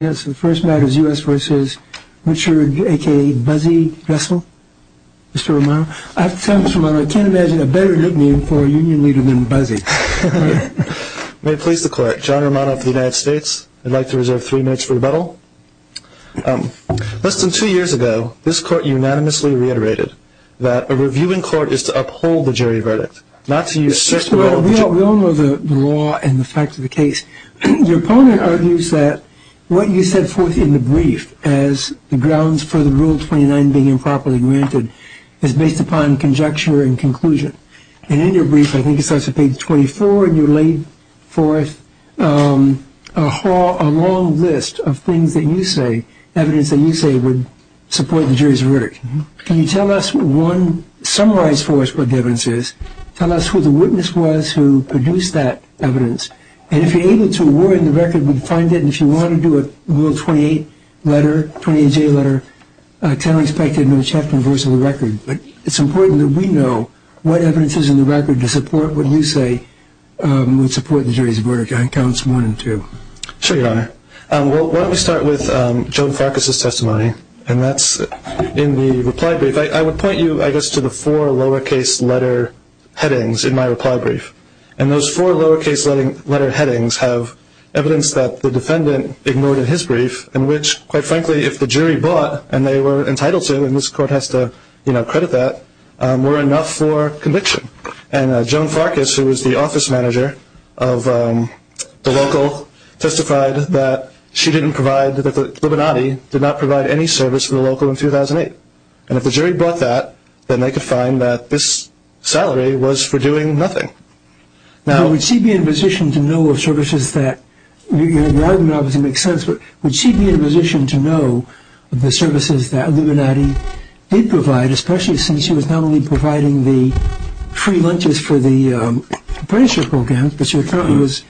Yes, the first matter is U.S. v. Richard, a.k.a. Buzzy Dressel. Mr. Romano, I have to tell you, Mr. Romano, I can't imagine a better nickname for a union leader than Buzzy. May it please the court, John Romano for the United States. I'd like to reserve three minutes for rebuttal. Less than two years ago, this court unanimously reiterated that a review in court is to uphold the jury verdict, not to assert the right of the jury. We all know the law and the fact of the case. Your opponent argues that what you set forth in the brief as the grounds for the Rule 29 being improperly granted is based upon conjecture and conclusion. And in your brief, I think it starts at page 24, and you laid forth a long list of things that you say, evidence that you say would support the jury's verdict. Can you tell us, one, summarize for us what the evidence is? Tell us who the witness was who produced that evidence. And if you're able to, where in the record would you find it? And if you want to do a Rule 28 letter, 28-J letter, tell us back in the chapter and verse of the record. But it's important that we know what evidence is in the record to support what you say would support the jury's verdict. I think that counts one and two. Sure, Your Honor. Why don't we start with Joan Farkas' testimony, and that's in the reply brief. I would point you, I guess, to the four lowercase letter headings in my reply brief. And those four lowercase letter headings have evidence that the defendant ignored in his brief, in which, quite frankly, if the jury bought, and they were entitled to, and this Court has to credit that, were enough for conviction. And Joan Farkas, who was the office manager of the local, testified that she didn't provide, that the Libanadi did not provide any service for the local in 2008. And if the jury bought that, then they could find that this salary was for doing nothing. Now, would she be in a position to know of services that, your argument obviously makes sense, but would she be in a position to know of the services that Libanadi did provide, especially since she was not only providing the free lunches for the apprenticeship programs, but she was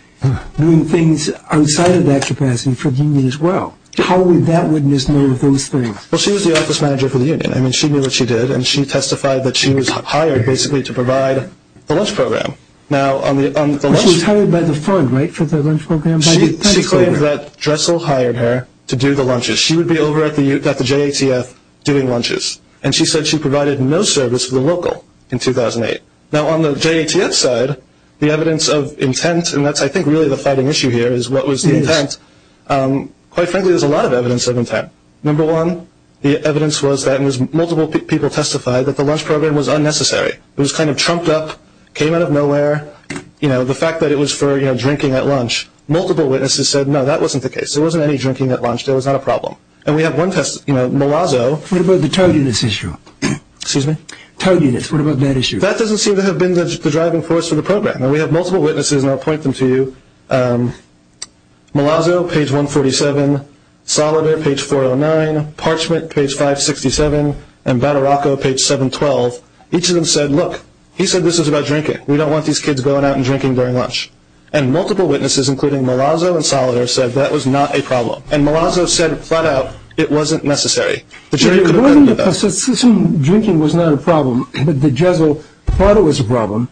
doing things outside of that capacity for the union as well? How would that witness know of those things? Well, she was the office manager for the union. I mean, she knew what she did, and she testified that she was hired, basically, to provide the lunch program. Now, on the lunch program... She was hired by the fund, right, for the lunch program? She claimed that Dressel hired her to do the lunches. She would be over at the JATF doing lunches. And she said she provided no service for the local in 2008. Now, on the JATF side, the evidence of intent, and that's, I think, really the fighting issue here, Quite frankly, there's a lot of evidence of intent. Number one, the evidence was that multiple people testified that the lunch program was unnecessary. It was kind of trumped up, came out of nowhere. You know, the fact that it was for drinking at lunch, multiple witnesses said, no, that wasn't the case. There wasn't any drinking at lunch. There was not a problem. And we have one test, you know, Malazzo... What about the targetless issue? Excuse me? Targetless. What about that issue? That doesn't seem to have been the driving force for the program. And we have multiple witnesses, and I'll point them to you. Malazzo, page 147. Solider, page 409. Parchment, page 567. And Battaraco, page 712. Each of them said, look, he said this was about drinking. We don't want these kids going out and drinking during lunch. And multiple witnesses, including Malazzo and Solider, said that was not a problem. And Malazzo said, flat out, it wasn't necessary. The jury couldn't agree with that. It wasn't a problem. Drinking was not a problem. But the juzzle thought it was a problem,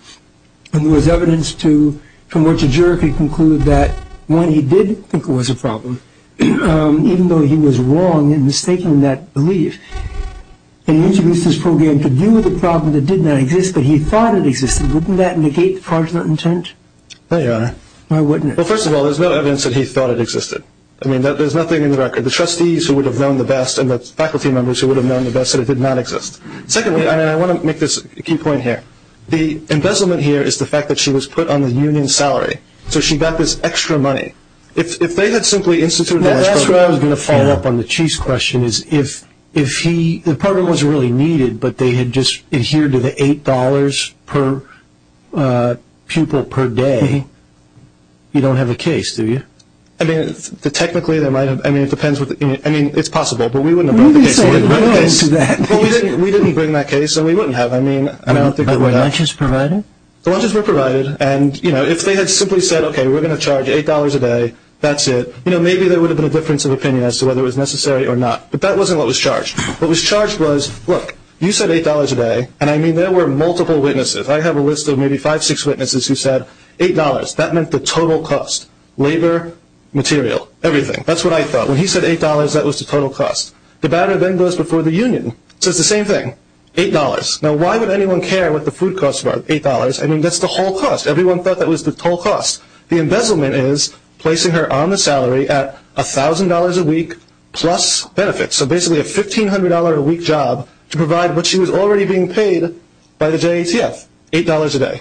and there was evidence from which a juror could conclude that, one, he did think it was a problem, even though he was wrong in mistaking that belief. And he introduced this program to deal with a problem that did not exist, but he thought it existed. Wouldn't that negate the project's intent? No, Your Honor. Why wouldn't it? Well, first of all, there's no evidence that he thought it existed. I mean, there's nothing in the record. The trustees who would have known the best and the faculty members who would have known the best said it did not exist. Secondly, and I want to make this key point here, the embezzlement here is the fact that she was put on the union's salary, so she got this extra money. If they had simply instituted that program. That's where I was going to follow up on the chief's question, is if the program was really needed but they had just adhered to the $8 per pupil per day, you don't have a case, do you? I mean, technically there might have. I mean, it depends. I mean, it's possible, but we wouldn't have brought the case. We didn't bring that case, and we wouldn't have. I mean, I don't think it would have. The lunches were provided? The lunches were provided, and, you know, if they had simply said, okay, we're going to charge $8 a day, that's it. You know, maybe there would have been a difference of opinion as to whether it was necessary or not, but that wasn't what was charged. What was charged was, look, you said $8 a day, and I mean there were multiple witnesses. I have a list of maybe five, six witnesses who said $8. That meant the total cost, labor, material, everything. That's what I thought. When he said $8, that was the total cost. The batter then goes before the union. It says the same thing, $8. Now, why would anyone care what the food costs were at $8? I mean, that's the whole cost. Everyone thought that was the total cost. The embezzlement is placing her on the salary at $1,000 a week plus benefits, so basically a $1,500 a week job to provide what she was already being paid by the JATF, $8 a day.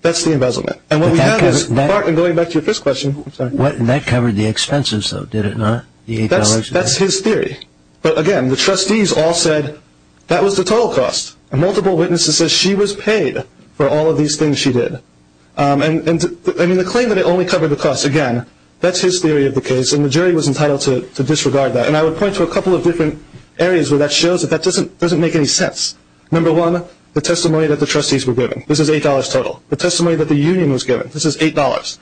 That's the embezzlement. And what we have is, going back to your first question. That covered the expenses, though, did it not? That's his theory. But, again, the trustees all said that was the total cost, and multiple witnesses said she was paid for all of these things she did. And, I mean, the claim that it only covered the costs, again, that's his theory of the case, and the jury was entitled to disregard that. And I would point to a couple of different areas where that shows that that doesn't make any sense. Number one, the testimony that the trustees were given. This is $8 total. The testimony that the union was given. This is $8.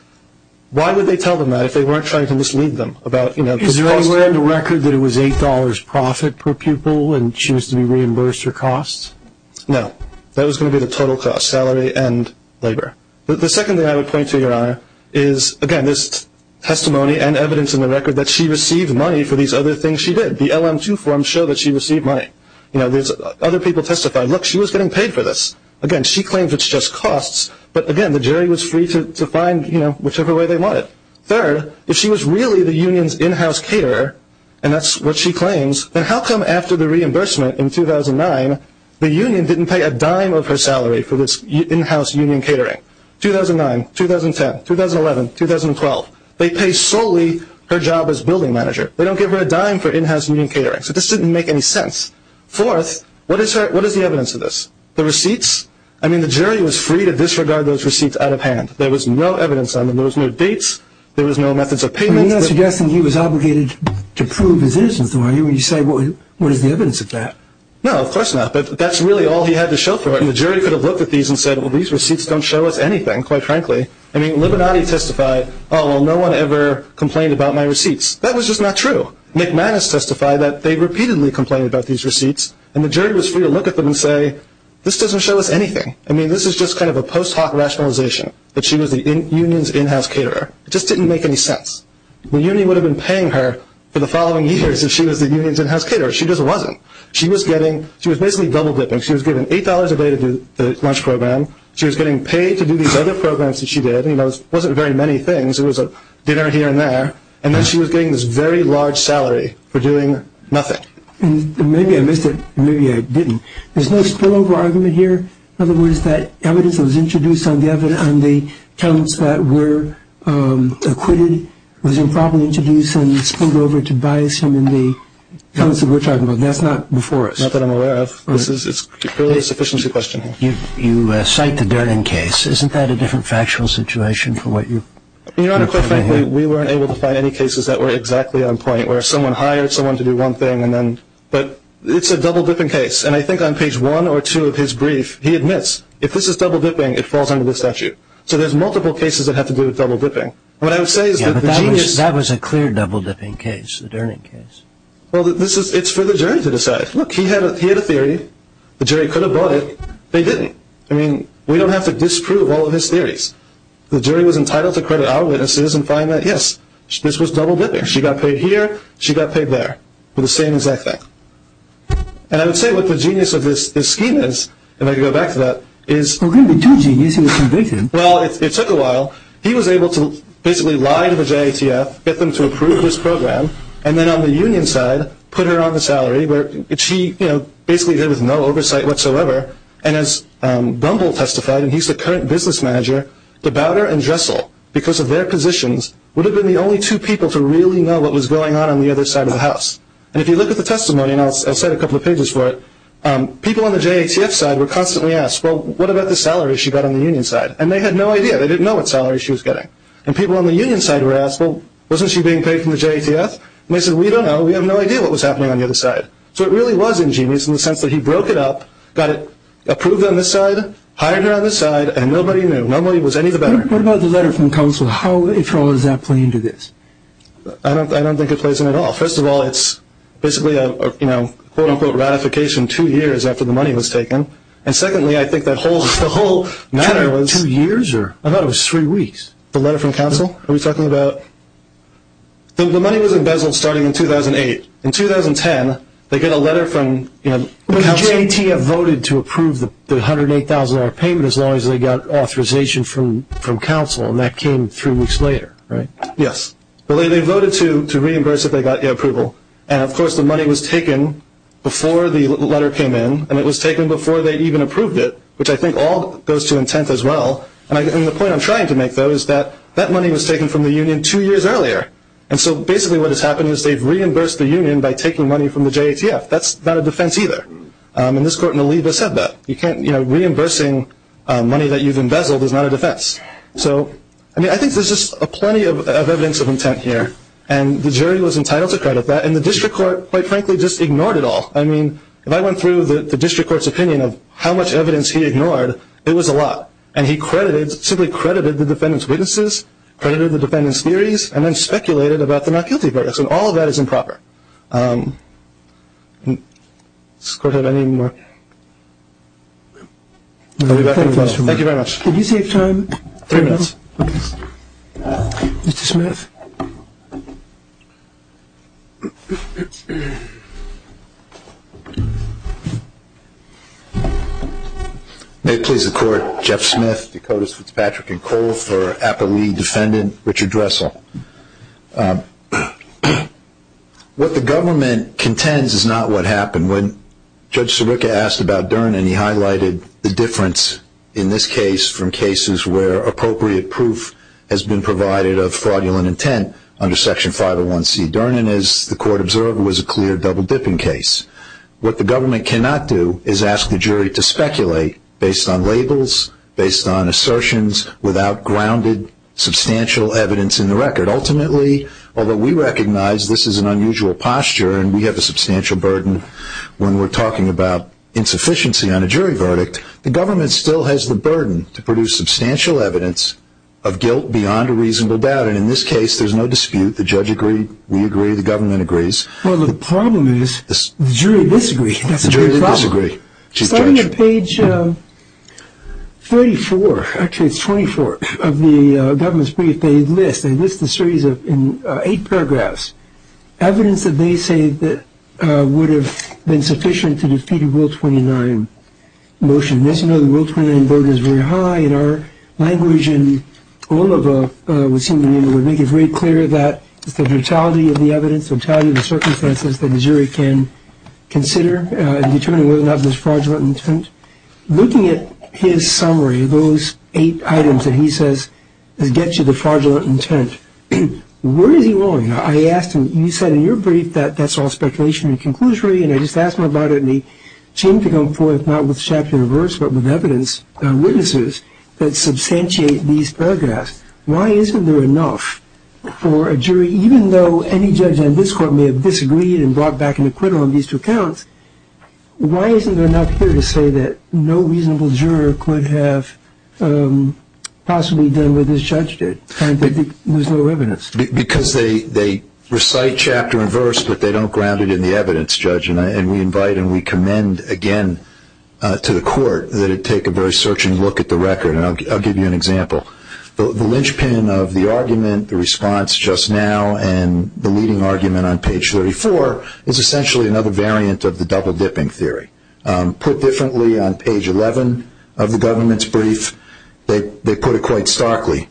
Why would they tell them that if they weren't trying to mislead them about, you know, Is there anywhere in the record that it was $8 profit per pupil and she was to be reimbursed her costs? No. That was going to be the total cost, salary and labor. The second thing I would point to, Your Honor, is, again, this testimony and evidence in the record that she received money for these other things she did. The LM2 forms show that she received money. You know, other people testified, look, she was getting paid for this. Again, she claims it's just costs. But, again, the jury was free to find, you know, whichever way they wanted. Third, if she was really the union's in-house caterer, and that's what she claims, then how come after the reimbursement in 2009, the union didn't pay a dime of her salary for this in-house union catering? 2009, 2010, 2011, 2012. They pay solely her job as building manager. They don't give her a dime for in-house union catering. So this didn't make any sense. Fourth, what is the evidence of this? The receipts? I mean, the jury was free to disregard those receipts out of hand. There was no evidence on them. There was no dates. There was no methods of payment. You're suggesting he was obligated to prove his innocence, are you, when you say what is the evidence of that? No, of course not. But that's really all he had to show for it. The jury could have looked at these and said, well, these receipts don't show us anything, quite frankly. I mean, Libinati testified, oh, well, no one ever complained about my receipts. That was just not true. McManus testified that they repeatedly complained about these receipts, and the jury was free to look at them and say, this doesn't show us anything. I mean, this is just kind of a post hoc rationalization that she was the union's in-house caterer. It just didn't make any sense. The union would have been paying her for the following years if she was the union's in-house caterer. She just wasn't. She was basically double dipping. She was given $8 a day to do the lunch program. She was getting paid to do these other programs that she did. It wasn't very many things. It was dinner here and there. And then she was getting this very large salary for doing nothing. And maybe I missed it, and maybe I didn't. There's no spillover argument here. In other words, that evidence that was introduced on the accounts that were acquitted was improperly introduced and spilled over to bias him in the accounts that we're talking about. That's not before us. Not that I'm aware of. This is purely a sufficiency question. You cite the Durden case. Isn't that a different factual situation from what you're coming here? Your Honor, quite frankly, we weren't able to find any cases that were exactly on point where someone hired someone to do one thing, but it's a double dipping case. And I think on page 1 or 2 of his brief, he admits, if this is double dipping, it falls under this statute. So there's multiple cases that have to do with double dipping. That was a clear double dipping case, the Durden case. Well, it's for the jury to decide. Look, he had a theory. The jury could have bought it. They didn't. I mean, we don't have to disprove all of his theories. The jury was entitled to credit our witnesses and find that, yes, this was double dipping. She got paid here, she got paid there for the same exact thing. And I would say what the genius of this scheme is, and I can go back to that, is Well, there were two geniuses who convicted him. Well, it took a while. He was able to basically lie to the JATF, get them to approve his program, and then on the union side put her on the salary, which he basically did with no oversight whatsoever. And as Bumble testified, and he's the current business manager, the Bowder and Dressel, because of their positions, would have been the only two people to really know what was going on on the other side of the house. And if you look at the testimony, and I'll cite a couple of pages for it, people on the JATF side were constantly asked, well, what about the salary she got on the union side? And they had no idea. They didn't know what salary she was getting. And people on the union side were asked, well, wasn't she being paid from the JATF? And they said, we don't know. We have no idea what was happening on the other side. So it really was ingenious in the sense that he broke it up, got it approved on this side, and nobody knew. Nobody was any the better. What about the letter from counsel? How at all does that play into this? I don't think it plays in at all. First of all, it's basically a, you know, quote, unquote, ratification two years after the money was taken. And secondly, I think the whole matter was – Two years? I thought it was three weeks. The letter from counsel? Are we talking about – the money was embezzled starting in 2008. In 2010, they get a letter from, you know – The JATF voted to approve the $108,000 payment as long as they got authorization from counsel, and that came three weeks later, right? Yes. They voted to reimburse if they got the approval. And, of course, the money was taken before the letter came in, and it was taken before they even approved it, which I think all goes to intent as well. And the point I'm trying to make, though, is that that money was taken from the union two years earlier. And so basically what has happened is they've reimbursed the union by taking money from the JATF. That's not a defense either. And this court in the lead has said that. You can't – you know, reimbursing money that you've embezzled is not a defense. So, I mean, I think there's just plenty of evidence of intent here, and the jury was entitled to credit that. And the district court, quite frankly, just ignored it all. I mean, if I went through the district court's opinion of how much evidence he ignored, it was a lot. And then speculated about the not guilty part. So all of that is improper. Does the court have any more? Thank you very much. Did you save time? Three minutes. Mr. Smith. May it please the Court. Jeff Smith, Dakotas, Fitzpatrick & Colfer, Appalee defendant, Richard Dressel. What the government contends is not what happened. When Judge Sirica asked about Dernan, he highlighted the difference in this case from cases where appropriate proof has been provided of fraudulent intent under Section 501C. Dernan, as the court observed, was a clear double-dipping case. What the government cannot do is ask the jury to speculate based on labels, based on assertions, without grounded substantial evidence in the record. Ultimately, although we recognize this is an unusual posture and we have a substantial burden when we're talking about insufficiency on a jury verdict, the government still has the burden to produce substantial evidence of guilt beyond a reasonable doubt. And in this case, there's no dispute. The judge agreed. We agreed. The government agrees. Well, the problem is the jury disagreed. The jury disagreed. She's a judge. Starting at page 34, actually it's 24, of the government's brief, they list, they list a series of eight paragraphs, evidence that they say would have been sufficient to defeat a Rule 29 motion. As you know, the Rule 29 vote is very high in our language, and Oliva would make it very clear that it's the totality of the evidence, the totality of the circumstances that a jury can consider in determining whether or not there's fraudulent intent. Looking at his summary, those eight items that he says get you the fraudulent intent, where is he wrong? I asked him, you said in your brief that that's all speculation and conclusion, and I just asked him about it and he seemed to come forth not with chapter or verse but with evidence, witnesses, that substantiate these paragraphs. Why isn't there enough for a jury, even though any judge in this court may have disagreed and brought back an acquittal on these two accounts, why isn't there enough here to say that no reasonable juror could have possibly done what this judge did? There's no evidence. Because they recite chapter and verse but they don't ground it in the evidence, Judge, and we invite and we commend again to the court that it take a very searching look at the record, and I'll give you an example. The linchpin of the argument, the response just now, and the leading argument on page 34 is essentially another variant of the double dipping theory. Put differently on page 11 of the government's brief, they put it quite starkly.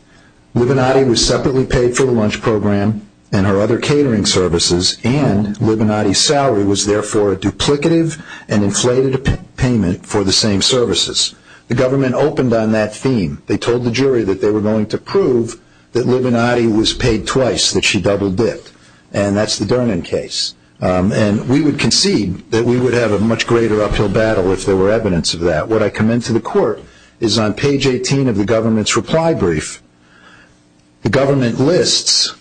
Libinati was separately paid for the lunch program and her other catering services and Libinati's salary was therefore a duplicative and inflated payment for the same services. The government opened on that theme. They told the jury that they were going to prove that Libinati was paid twice, that she double dipped, and that's the Durnin case. And we would concede that we would have a much greater uphill battle if there were evidence of that. What I commend to the court is on page 18 of the government's reply brief, the government lists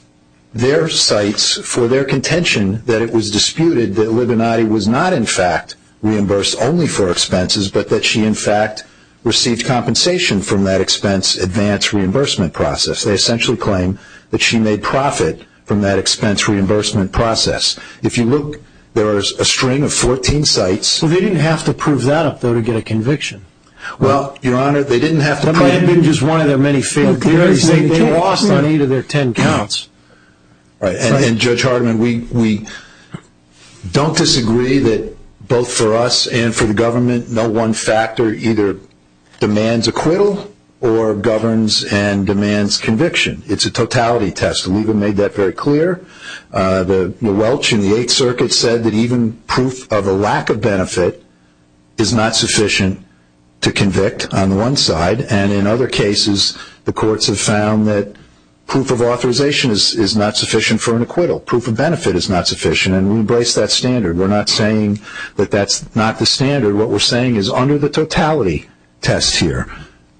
their sites for their contention that it was disputed that Libinati was not in fact reimbursed only for expenses, but that she in fact received compensation from that expense advance reimbursement process. They essentially claim that she made profit from that expense reimbursement process. If you look, there is a string of 14 sites. Well, they didn't have to prove that up, though, to get a conviction. Well, Your Honor, they didn't have to prove it. Double dipping is one of their many failures. They lost on either of their 10 counts. And, Judge Hartman, we don't disagree that both for us and for the government, no one factor either demands acquittal or governs and demands conviction. It's a totality test. Libinati made that very clear. The Welch in the Eighth Circuit said that even proof of a lack of benefit is not sufficient to convict on one side, and in other cases, the courts have found that proof of authorization is not sufficient for an acquittal. Proof of benefit is not sufficient, and we embrace that standard. We're not saying that that's not the standard. What we're saying is under the totality test here,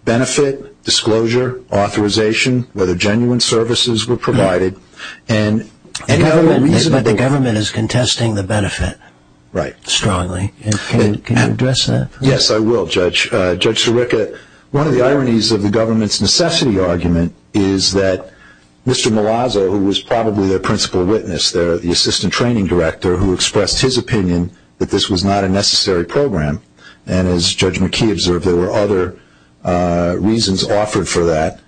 benefit, disclosure, authorization, whether genuine services were provided. But the government is contesting the benefit strongly. Can you address that? Yes, I will, Judge. Judge Sirica, one of the ironies of the government's necessity argument is that Mr. Malazzo, who was probably their principal witness there, the assistant training director, who expressed his opinion that this was not a necessary program, and as Judge McKee observed there were other reasons offered for that,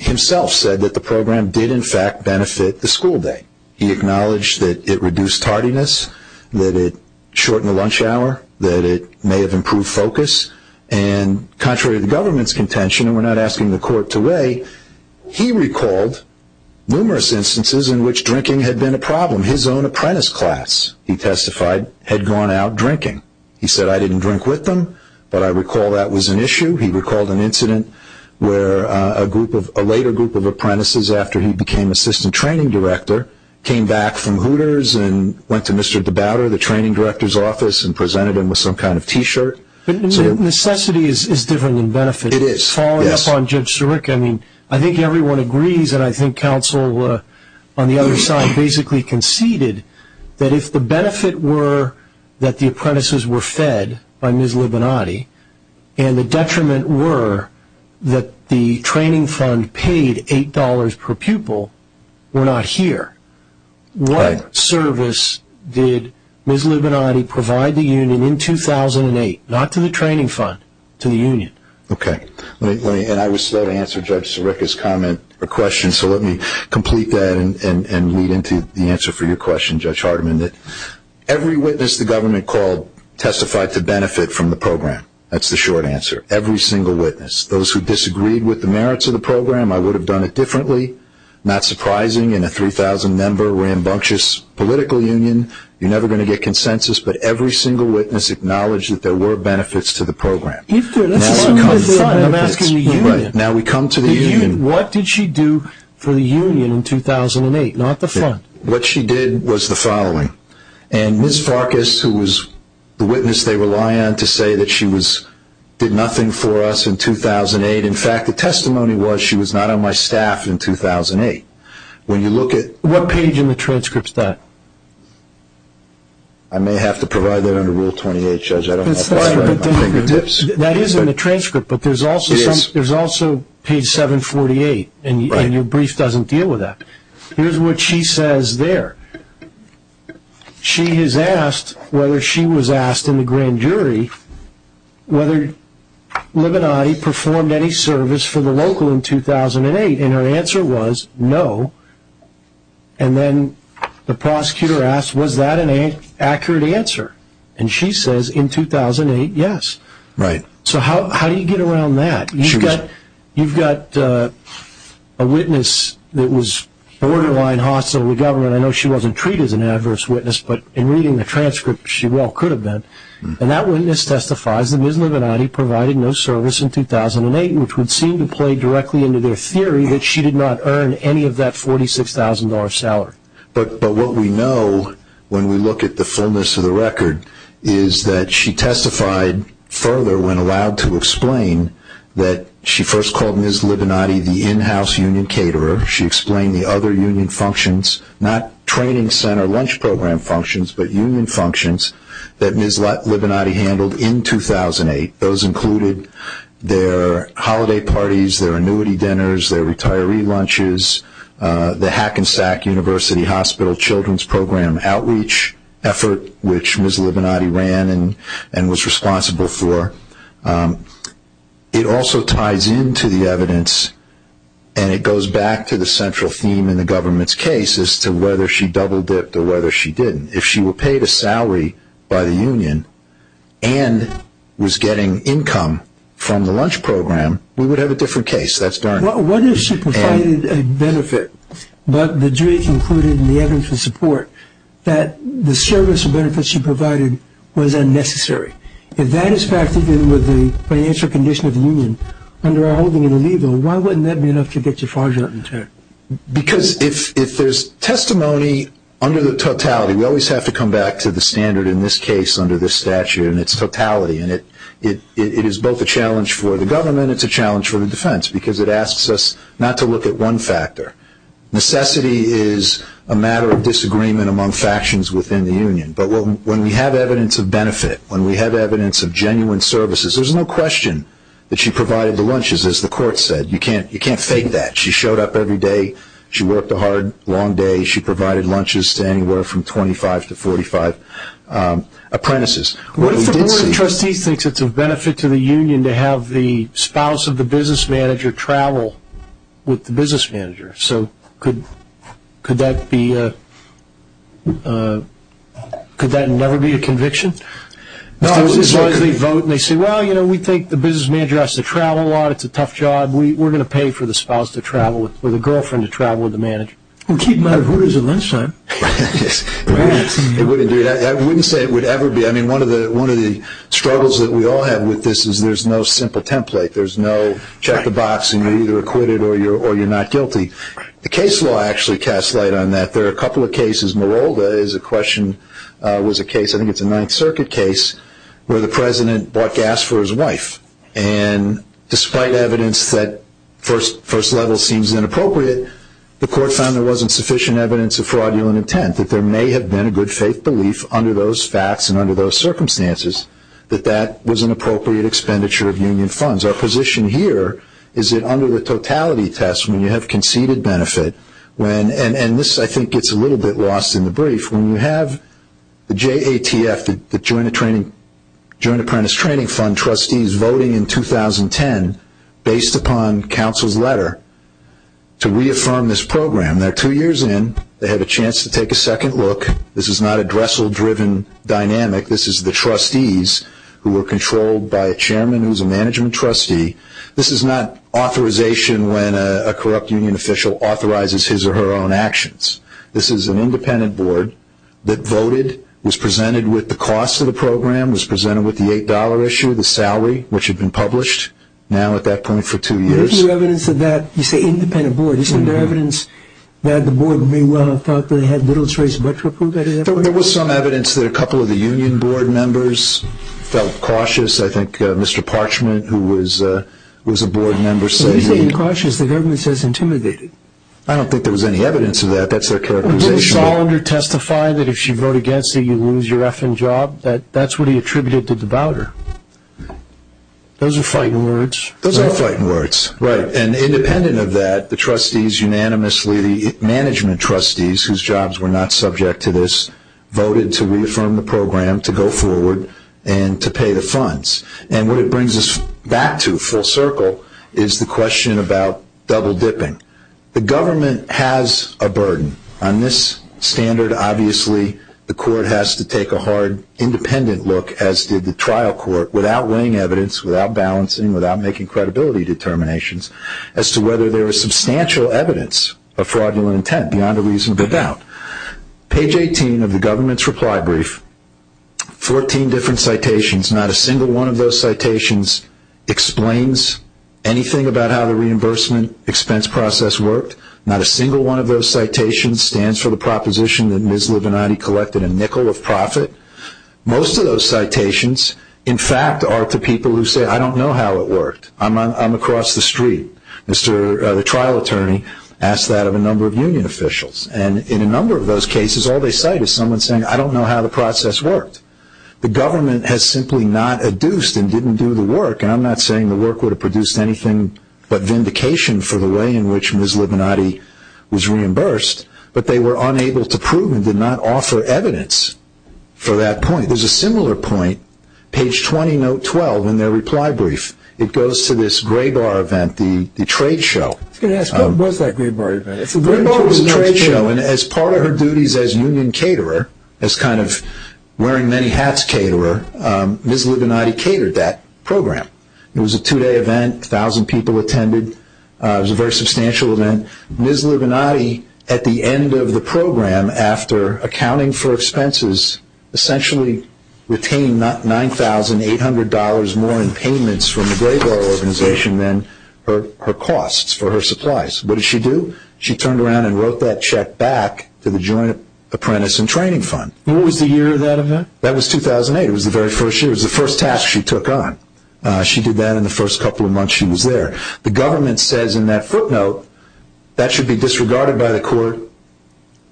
himself said that the program did, in fact, benefit the school day. He acknowledged that it reduced tardiness, that it shortened the lunch hour, that it may have improved focus, and contrary to the government's contention, and we're not asking the court to weigh, he recalled numerous instances in which drinking had been a problem. His own apprentice class, he testified, had gone out drinking. He said, I didn't drink with them, but I recall that was an issue. He recalled an incident where a later group of apprentices, after he became assistant training director, came back from Hooters and went to Mr. Debouter, the training director's office, and presented him with some kind of T-shirt. Necessity is different than benefit. It is. Following up on Judge Siric, I think everyone agrees, and I think counsel on the other side basically conceded, that if the benefit were that the apprentices were fed by Ms. Libinati, and the detriment were that the training fund paid $8 per pupil, we're not here. What service did Ms. Libinati provide the union in 2008? Not to the training fund, to the union. Okay. And I was slow to answer Judge Siric's comment or question, so let me complete that and lead into the answer for your question, Judge Hardiman. Every witness the government called testified to benefit from the program. That's the short answer. Every single witness. Those who disagreed with the merits of the program, I would have done it differently. Not surprising in a 3,000-member, rambunctious political union, you're never going to get consensus, but every single witness acknowledged that there were benefits to the program. Now we come to the union. What did she do for the union in 2008, not the fund? What she did was the following. And Ms. Farkas, who was the witness they rely on to say that she did nothing for us in 2008, in fact, the testimony was she was not on my staff in 2008. What page in the transcript is that? I may have to provide that under Rule 28, Judge, I don't know if that's right. That is in the transcript, but there's also page 748, and your brief doesn't deal with that. Here's what she says there. She has asked, whether she was asked in the grand jury, whether Libidotti performed any service for the local in 2008, and her answer was no. And then the prosecutor asked, was that an accurate answer? And she says in 2008, yes. So how do you get around that? You've got a witness that was borderline hostile to government. I know she wasn't treated as an adverse witness, but in reading the transcript, she well could have been. And that witness testifies that Ms. Libidotti provided no service in 2008, which would seem to play directly into their theory that she did not earn any of that $46,000 salary. But what we know when we look at the fullness of the record is that she testified further when allowed to explain that she first called Ms. Libidotti the in-house union caterer. She explained the other union functions, not training center lunch program functions, but union functions that Ms. Libidotti handled in 2008. Those included their holiday parties, their annuity dinners, their retiree lunches, the Hackensack University Hospital Children's Program outreach effort, which Ms. Libidotti ran and was responsible for. It also ties into the evidence, and it goes back to the central theme in the government's case, as to whether she double-dipped or whether she didn't. If she were paid a salary by the union and was getting income from the lunch program, we would have a different case. What if she provided a benefit, but the jury concluded in the evidence of support, that the service or benefits she provided was unnecessary? If that is factored in with the financial condition of the union, under our holding it illegal, why wouldn't that be enough to get your fraudulent return? Because if there's testimony under the totality, we always have to come back to the standard in this case under this statute and its totality. It is both a challenge for the government and it's a challenge for the defense because it asks us not to look at one factor. Necessity is a matter of disagreement among factions within the union. But when we have evidence of benefit, when we have evidence of genuine services, there's no question that she provided the lunches, as the court said. You can't fake that. She showed up every day. She worked a hard, long day. She provided lunches to anywhere from 25 to 45 apprentices. What if the board of trustees thinks it's of benefit to the union to have the spouse of the business manager travel with the business manager? So could that never be a conviction? No, as long as they vote and they say, well, you know, we think the business manager has to travel a lot. It's a tough job. We're going to pay for the spouse to travel with the girlfriend to travel with the manager. We'll keep them out of orders at lunchtime. It wouldn't do that. I wouldn't say it would ever be. One of the struggles that we all have with this is there's no simple template. There's no check the box and you're either acquitted or you're not guilty. The case law actually casts light on that. There are a couple of cases. Mirolda is a question, was a case, I think it's a Ninth Circuit case, where the president bought gas for his wife. And despite evidence that first level seems inappropriate, the court found there wasn't sufficient evidence of fraudulent intent, that there may have been a good faith belief under those facts and under those circumstances that that was an appropriate expenditure of union funds. Our position here is that under the totality test when you have conceded benefit, and this I think gets a little bit lost in the brief, when you have the JATF, the Joint Apprentice Training Fund, trustees voting in 2010 based upon counsel's letter to reaffirm this program, when they're two years in, they have a chance to take a second look. This is not a Dressel-driven dynamic. This is the trustees who are controlled by a chairman who's a management trustee. This is not authorization when a corrupt union official authorizes his or her own actions. This is an independent board that voted, was presented with the cost of the program, was presented with the $8 issue, the salary, which had been published now at that point for two years. Isn't there evidence of that, you say independent board, isn't there evidence that the board may well have thought that it had little choice but to approve it? There was some evidence that a couple of the union board members felt cautious. I think Mr. Parchment, who was a board member, said he... What do you mean cautious? The government says intimidated. I don't think there was any evidence of that. That's their characterization. Didn't Solander testify that if you vote against it, you lose your effing job? That's what he attributed to the debaucher. Those are frightened words. Those are frightened words, right. And independent of that, the trustees unanimously, the management trustees, whose jobs were not subject to this, voted to reaffirm the program, to go forward, and to pay the funds. And what it brings us back to full circle is the question about double dipping. The government has a burden. On this standard, obviously, the court has to take a hard independent look, as did the trial court, without weighing evidence, without balancing, without making credibility determinations, as to whether there is substantial evidence of fraudulent intent beyond a reasonable doubt. Page 18 of the government's reply brief, 14 different citations. Not a single one of those citations explains anything about how the reimbursement expense process worked. Not a single one of those citations stands for the proposition that Ms. Livinati collected a nickel of profit. Most of those citations, in fact, are to people who say, I don't know how it worked. I'm across the street. The trial attorney asked that of a number of union officials. And in a number of those cases, all they cite is someone saying, I don't know how the process worked. The government has simply not adduced and didn't do the work, and I'm not saying the work would have produced anything but vindication for the way in which Ms. Livinati was reimbursed, but they were unable to prove and did not offer evidence for that point. There's a similar point, page 20, note 12 in their reply brief. It goes to this Graybar event, the trade show. I was going to ask, what was that Graybar event? Graybar was a trade show, and as part of her duties as union caterer, as kind of wearing many hats caterer, Ms. Livinati catered that program. It was a two-day event. A thousand people attended. It was a very substantial event. Ms. Livinati, at the end of the program, after accounting for expenses, essentially retained $9,800 more in payments from the Graybar organization than her costs for her supplies. What did she do? She turned around and wrote that check back to the Joint Apprentice and Training Fund. What was the year of that event? That was 2008. It was the very first year. It was the first task she took on. She did that in the first couple of months she was there. The government says in that footnote, that should be disregarded by the court.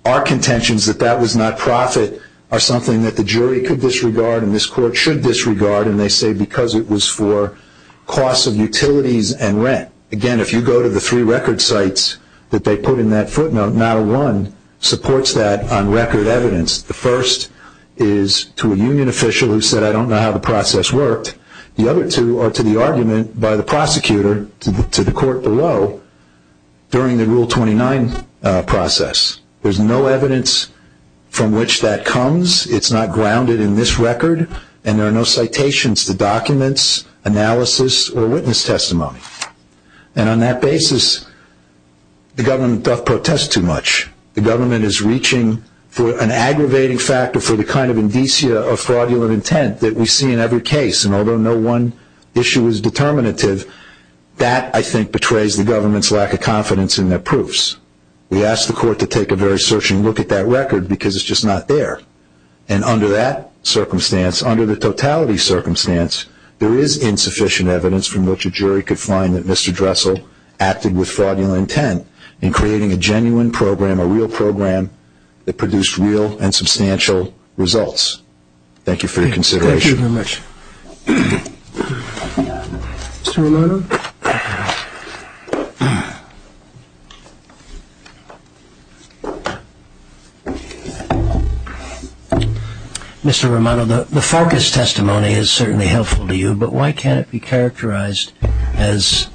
Our contentions that that was not profit are something that the jury could disregard and this court should disregard, and they say because it was for costs of utilities and rent. Again, if you go to the three record sites that they put in that footnote, not one supports that on record evidence. The first is to a union official who said, I don't know how the process worked. The other two are to the argument by the prosecutor to the court below during the Rule 29 process. There's no evidence from which that comes. It's not grounded in this record, and there are no citations to documents, analysis, or witness testimony. And on that basis, the government doth protest too much. The government is reaching for an aggravating factor for the kind of indicia of fraudulent intent that we see in every case, and although no one issue is determinative, that I think betrays the government's lack of confidence in their proofs. We ask the court to take a very searching look at that record because it's just not there. And under that circumstance, under the totality circumstance, there is insufficient evidence from which a jury could find that Mr. Dressel acted with fraudulent intent in creating a genuine program, a real program, that produced real and substantial results. Thank you for your consideration. Thank you very much. Mr. Romano? Mr. Romano, the Farkas testimony is certainly helpful to you, but why can't it be characterized as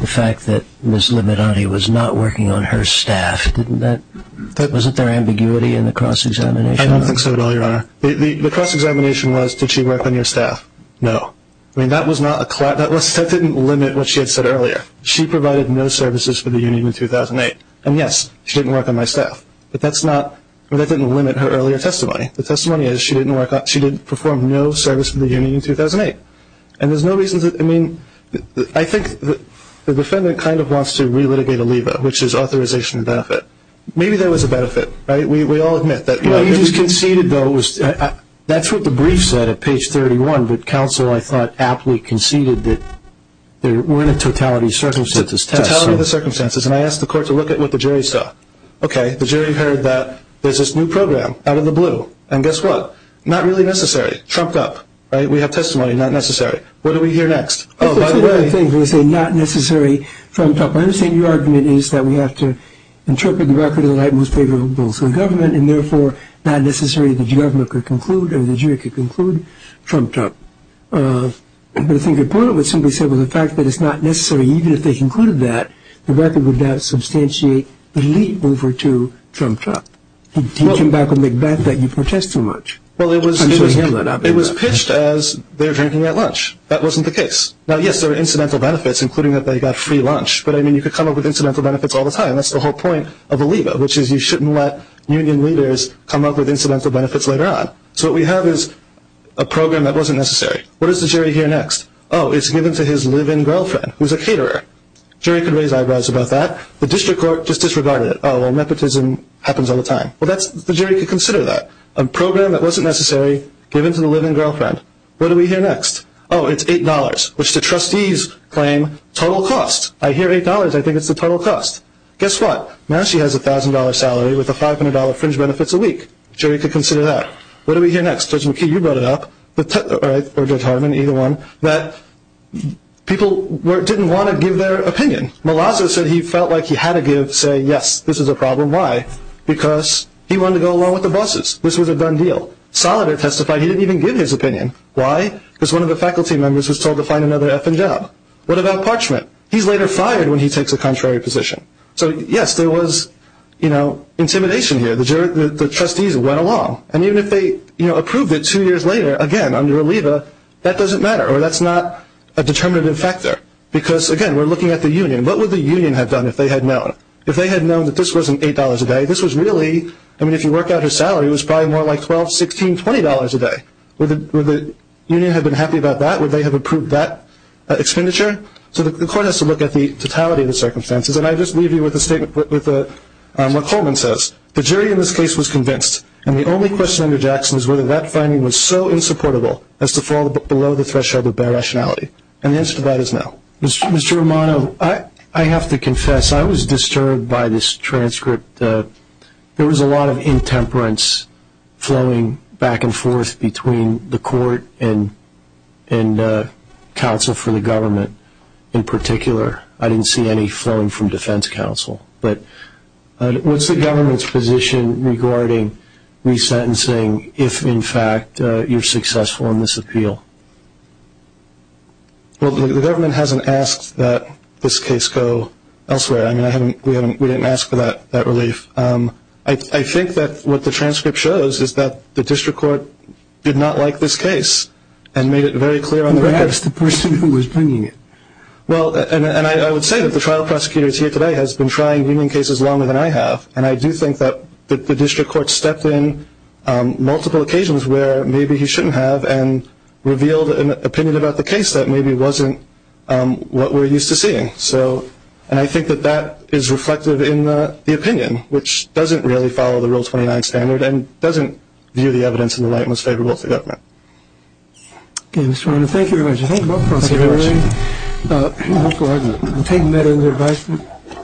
the fact that Ms. Limitati was not working on her staff? Wasn't there ambiguity in the cross-examination? I don't think so at all, Your Honor. The cross-examination was, did she work on your staff? No. I mean, that didn't limit what she had said earlier. She provided no services for the union in 2008. And, yes, she didn't work on my staff. But that didn't limit her earlier testimony. The testimony is she didn't perform no service for the union in 2008. And there's no reason to – I mean, I think the defendant kind of wants to re-litigate a leva, which is authorization of benefit. Maybe there was a benefit. We all admit that. What you just conceded, though, that's what the brief said at page 31, but counsel, I thought, aptly conceded that there weren't a totality of circumstances test. Totality of the circumstances. And I asked the court to look at what the jury saw. Okay. The jury heard that there's this new program out of the blue. And guess what? Not really necessary. Trumped up. We have testimony, not necessary. What do we hear next? Oh, by the way. It's a different thing when you say not necessary, trumped up. I understand your argument is that we have to interpret the record in the light most favorable to the government and, therefore, not necessarily that the government could conclude or the jury could conclude trumped up. But I think the point I would simply say was the fact that it's not necessary. Even if they concluded that, the record would not substantiate the lead over to trumped up. He came back and made back that you protest too much. Well, it was pitched as they're drinking at lunch. That wasn't the case. Now, yes, there were incidental benefits, including that they got free lunch. But, I mean, you could come up with incidental benefits all the time. That's the whole point of a lead over, which is you shouldn't let union leaders come up with incidental benefits later on. So what we have is a program that wasn't necessary. What does the jury hear next? Oh, it's given to his live-in girlfriend, who's a caterer. The jury could raise eyebrows about that. The district court just disregarded it. Oh, well, nepotism happens all the time. Well, the jury could consider that. A program that wasn't necessary given to the live-in girlfriend. What do we hear next? Oh, it's $8, which the trustees claim total cost. I hear $8. I think it's the total cost. Guess what? Now she has a $1,000 salary with a $500 fringe benefits a week. The jury could consider that. What do we hear next? Judge McKee, you brought it up, or Judge Hartman, either one, that people didn't want to give their opinion. Malazzo said he felt like he had to give, say, yes, this is a problem. Why? Because he wanted to go along with the bosses. This was a done deal. Salader testified he didn't even give his opinion. Why? Because one of the faculty members was told to find another effing job. What about Parchment? He's later fired when he takes a contrary position. So, yes, there was, you know, intimidation here. The trustees went along. And even if they, you know, approved it two years later, again, under a LEVA, that doesn't matter, or that's not a determinative factor. Because, again, we're looking at the union. What would the union have done if they had known? If they had known that this wasn't $8 a day, this was really, I mean, if you work out her salary, it was probably more like $12, $16, $20 a day. Would the union have been happy about that? Would they have approved that expenditure? So the court has to look at the totality of the circumstances. And I just leave you with a statement, with what Coleman says. The jury in this case was convinced, and the only question under Jackson is whether that finding was so insupportable as to fall below the threshold of bare rationality. And the answer to that is no. Mr. Romano, I have to confess, I was disturbed by this transcript. There was a lot of intemperance flowing back and forth between the court and counsel for the government in particular. I didn't see any flowing from defense counsel. But what's the government's position regarding resentencing if, in fact, you're successful in this appeal? Well, the government hasn't asked that this case go elsewhere. I mean, we didn't ask for that relief. I think that what the transcript shows is that the district court did not like this case and made it very clear on the record. Perhaps the person who was bringing it. Well, and I would say that the trial prosecutor here today has been trying union cases longer than I have, and I do think that the district court stepped in multiple occasions where maybe he shouldn't have and revealed an opinion about the case that maybe wasn't what we're used to seeing. And I think that that is reflected in the opinion, which doesn't really follow the Rule 29 standard and doesn't view the evidence in the light most favorable to the government. Okay, Mr. Romano, thank you very much. Thank you both, Prosecutor O'Rourke. Thank you very much. We'll take that into advisement.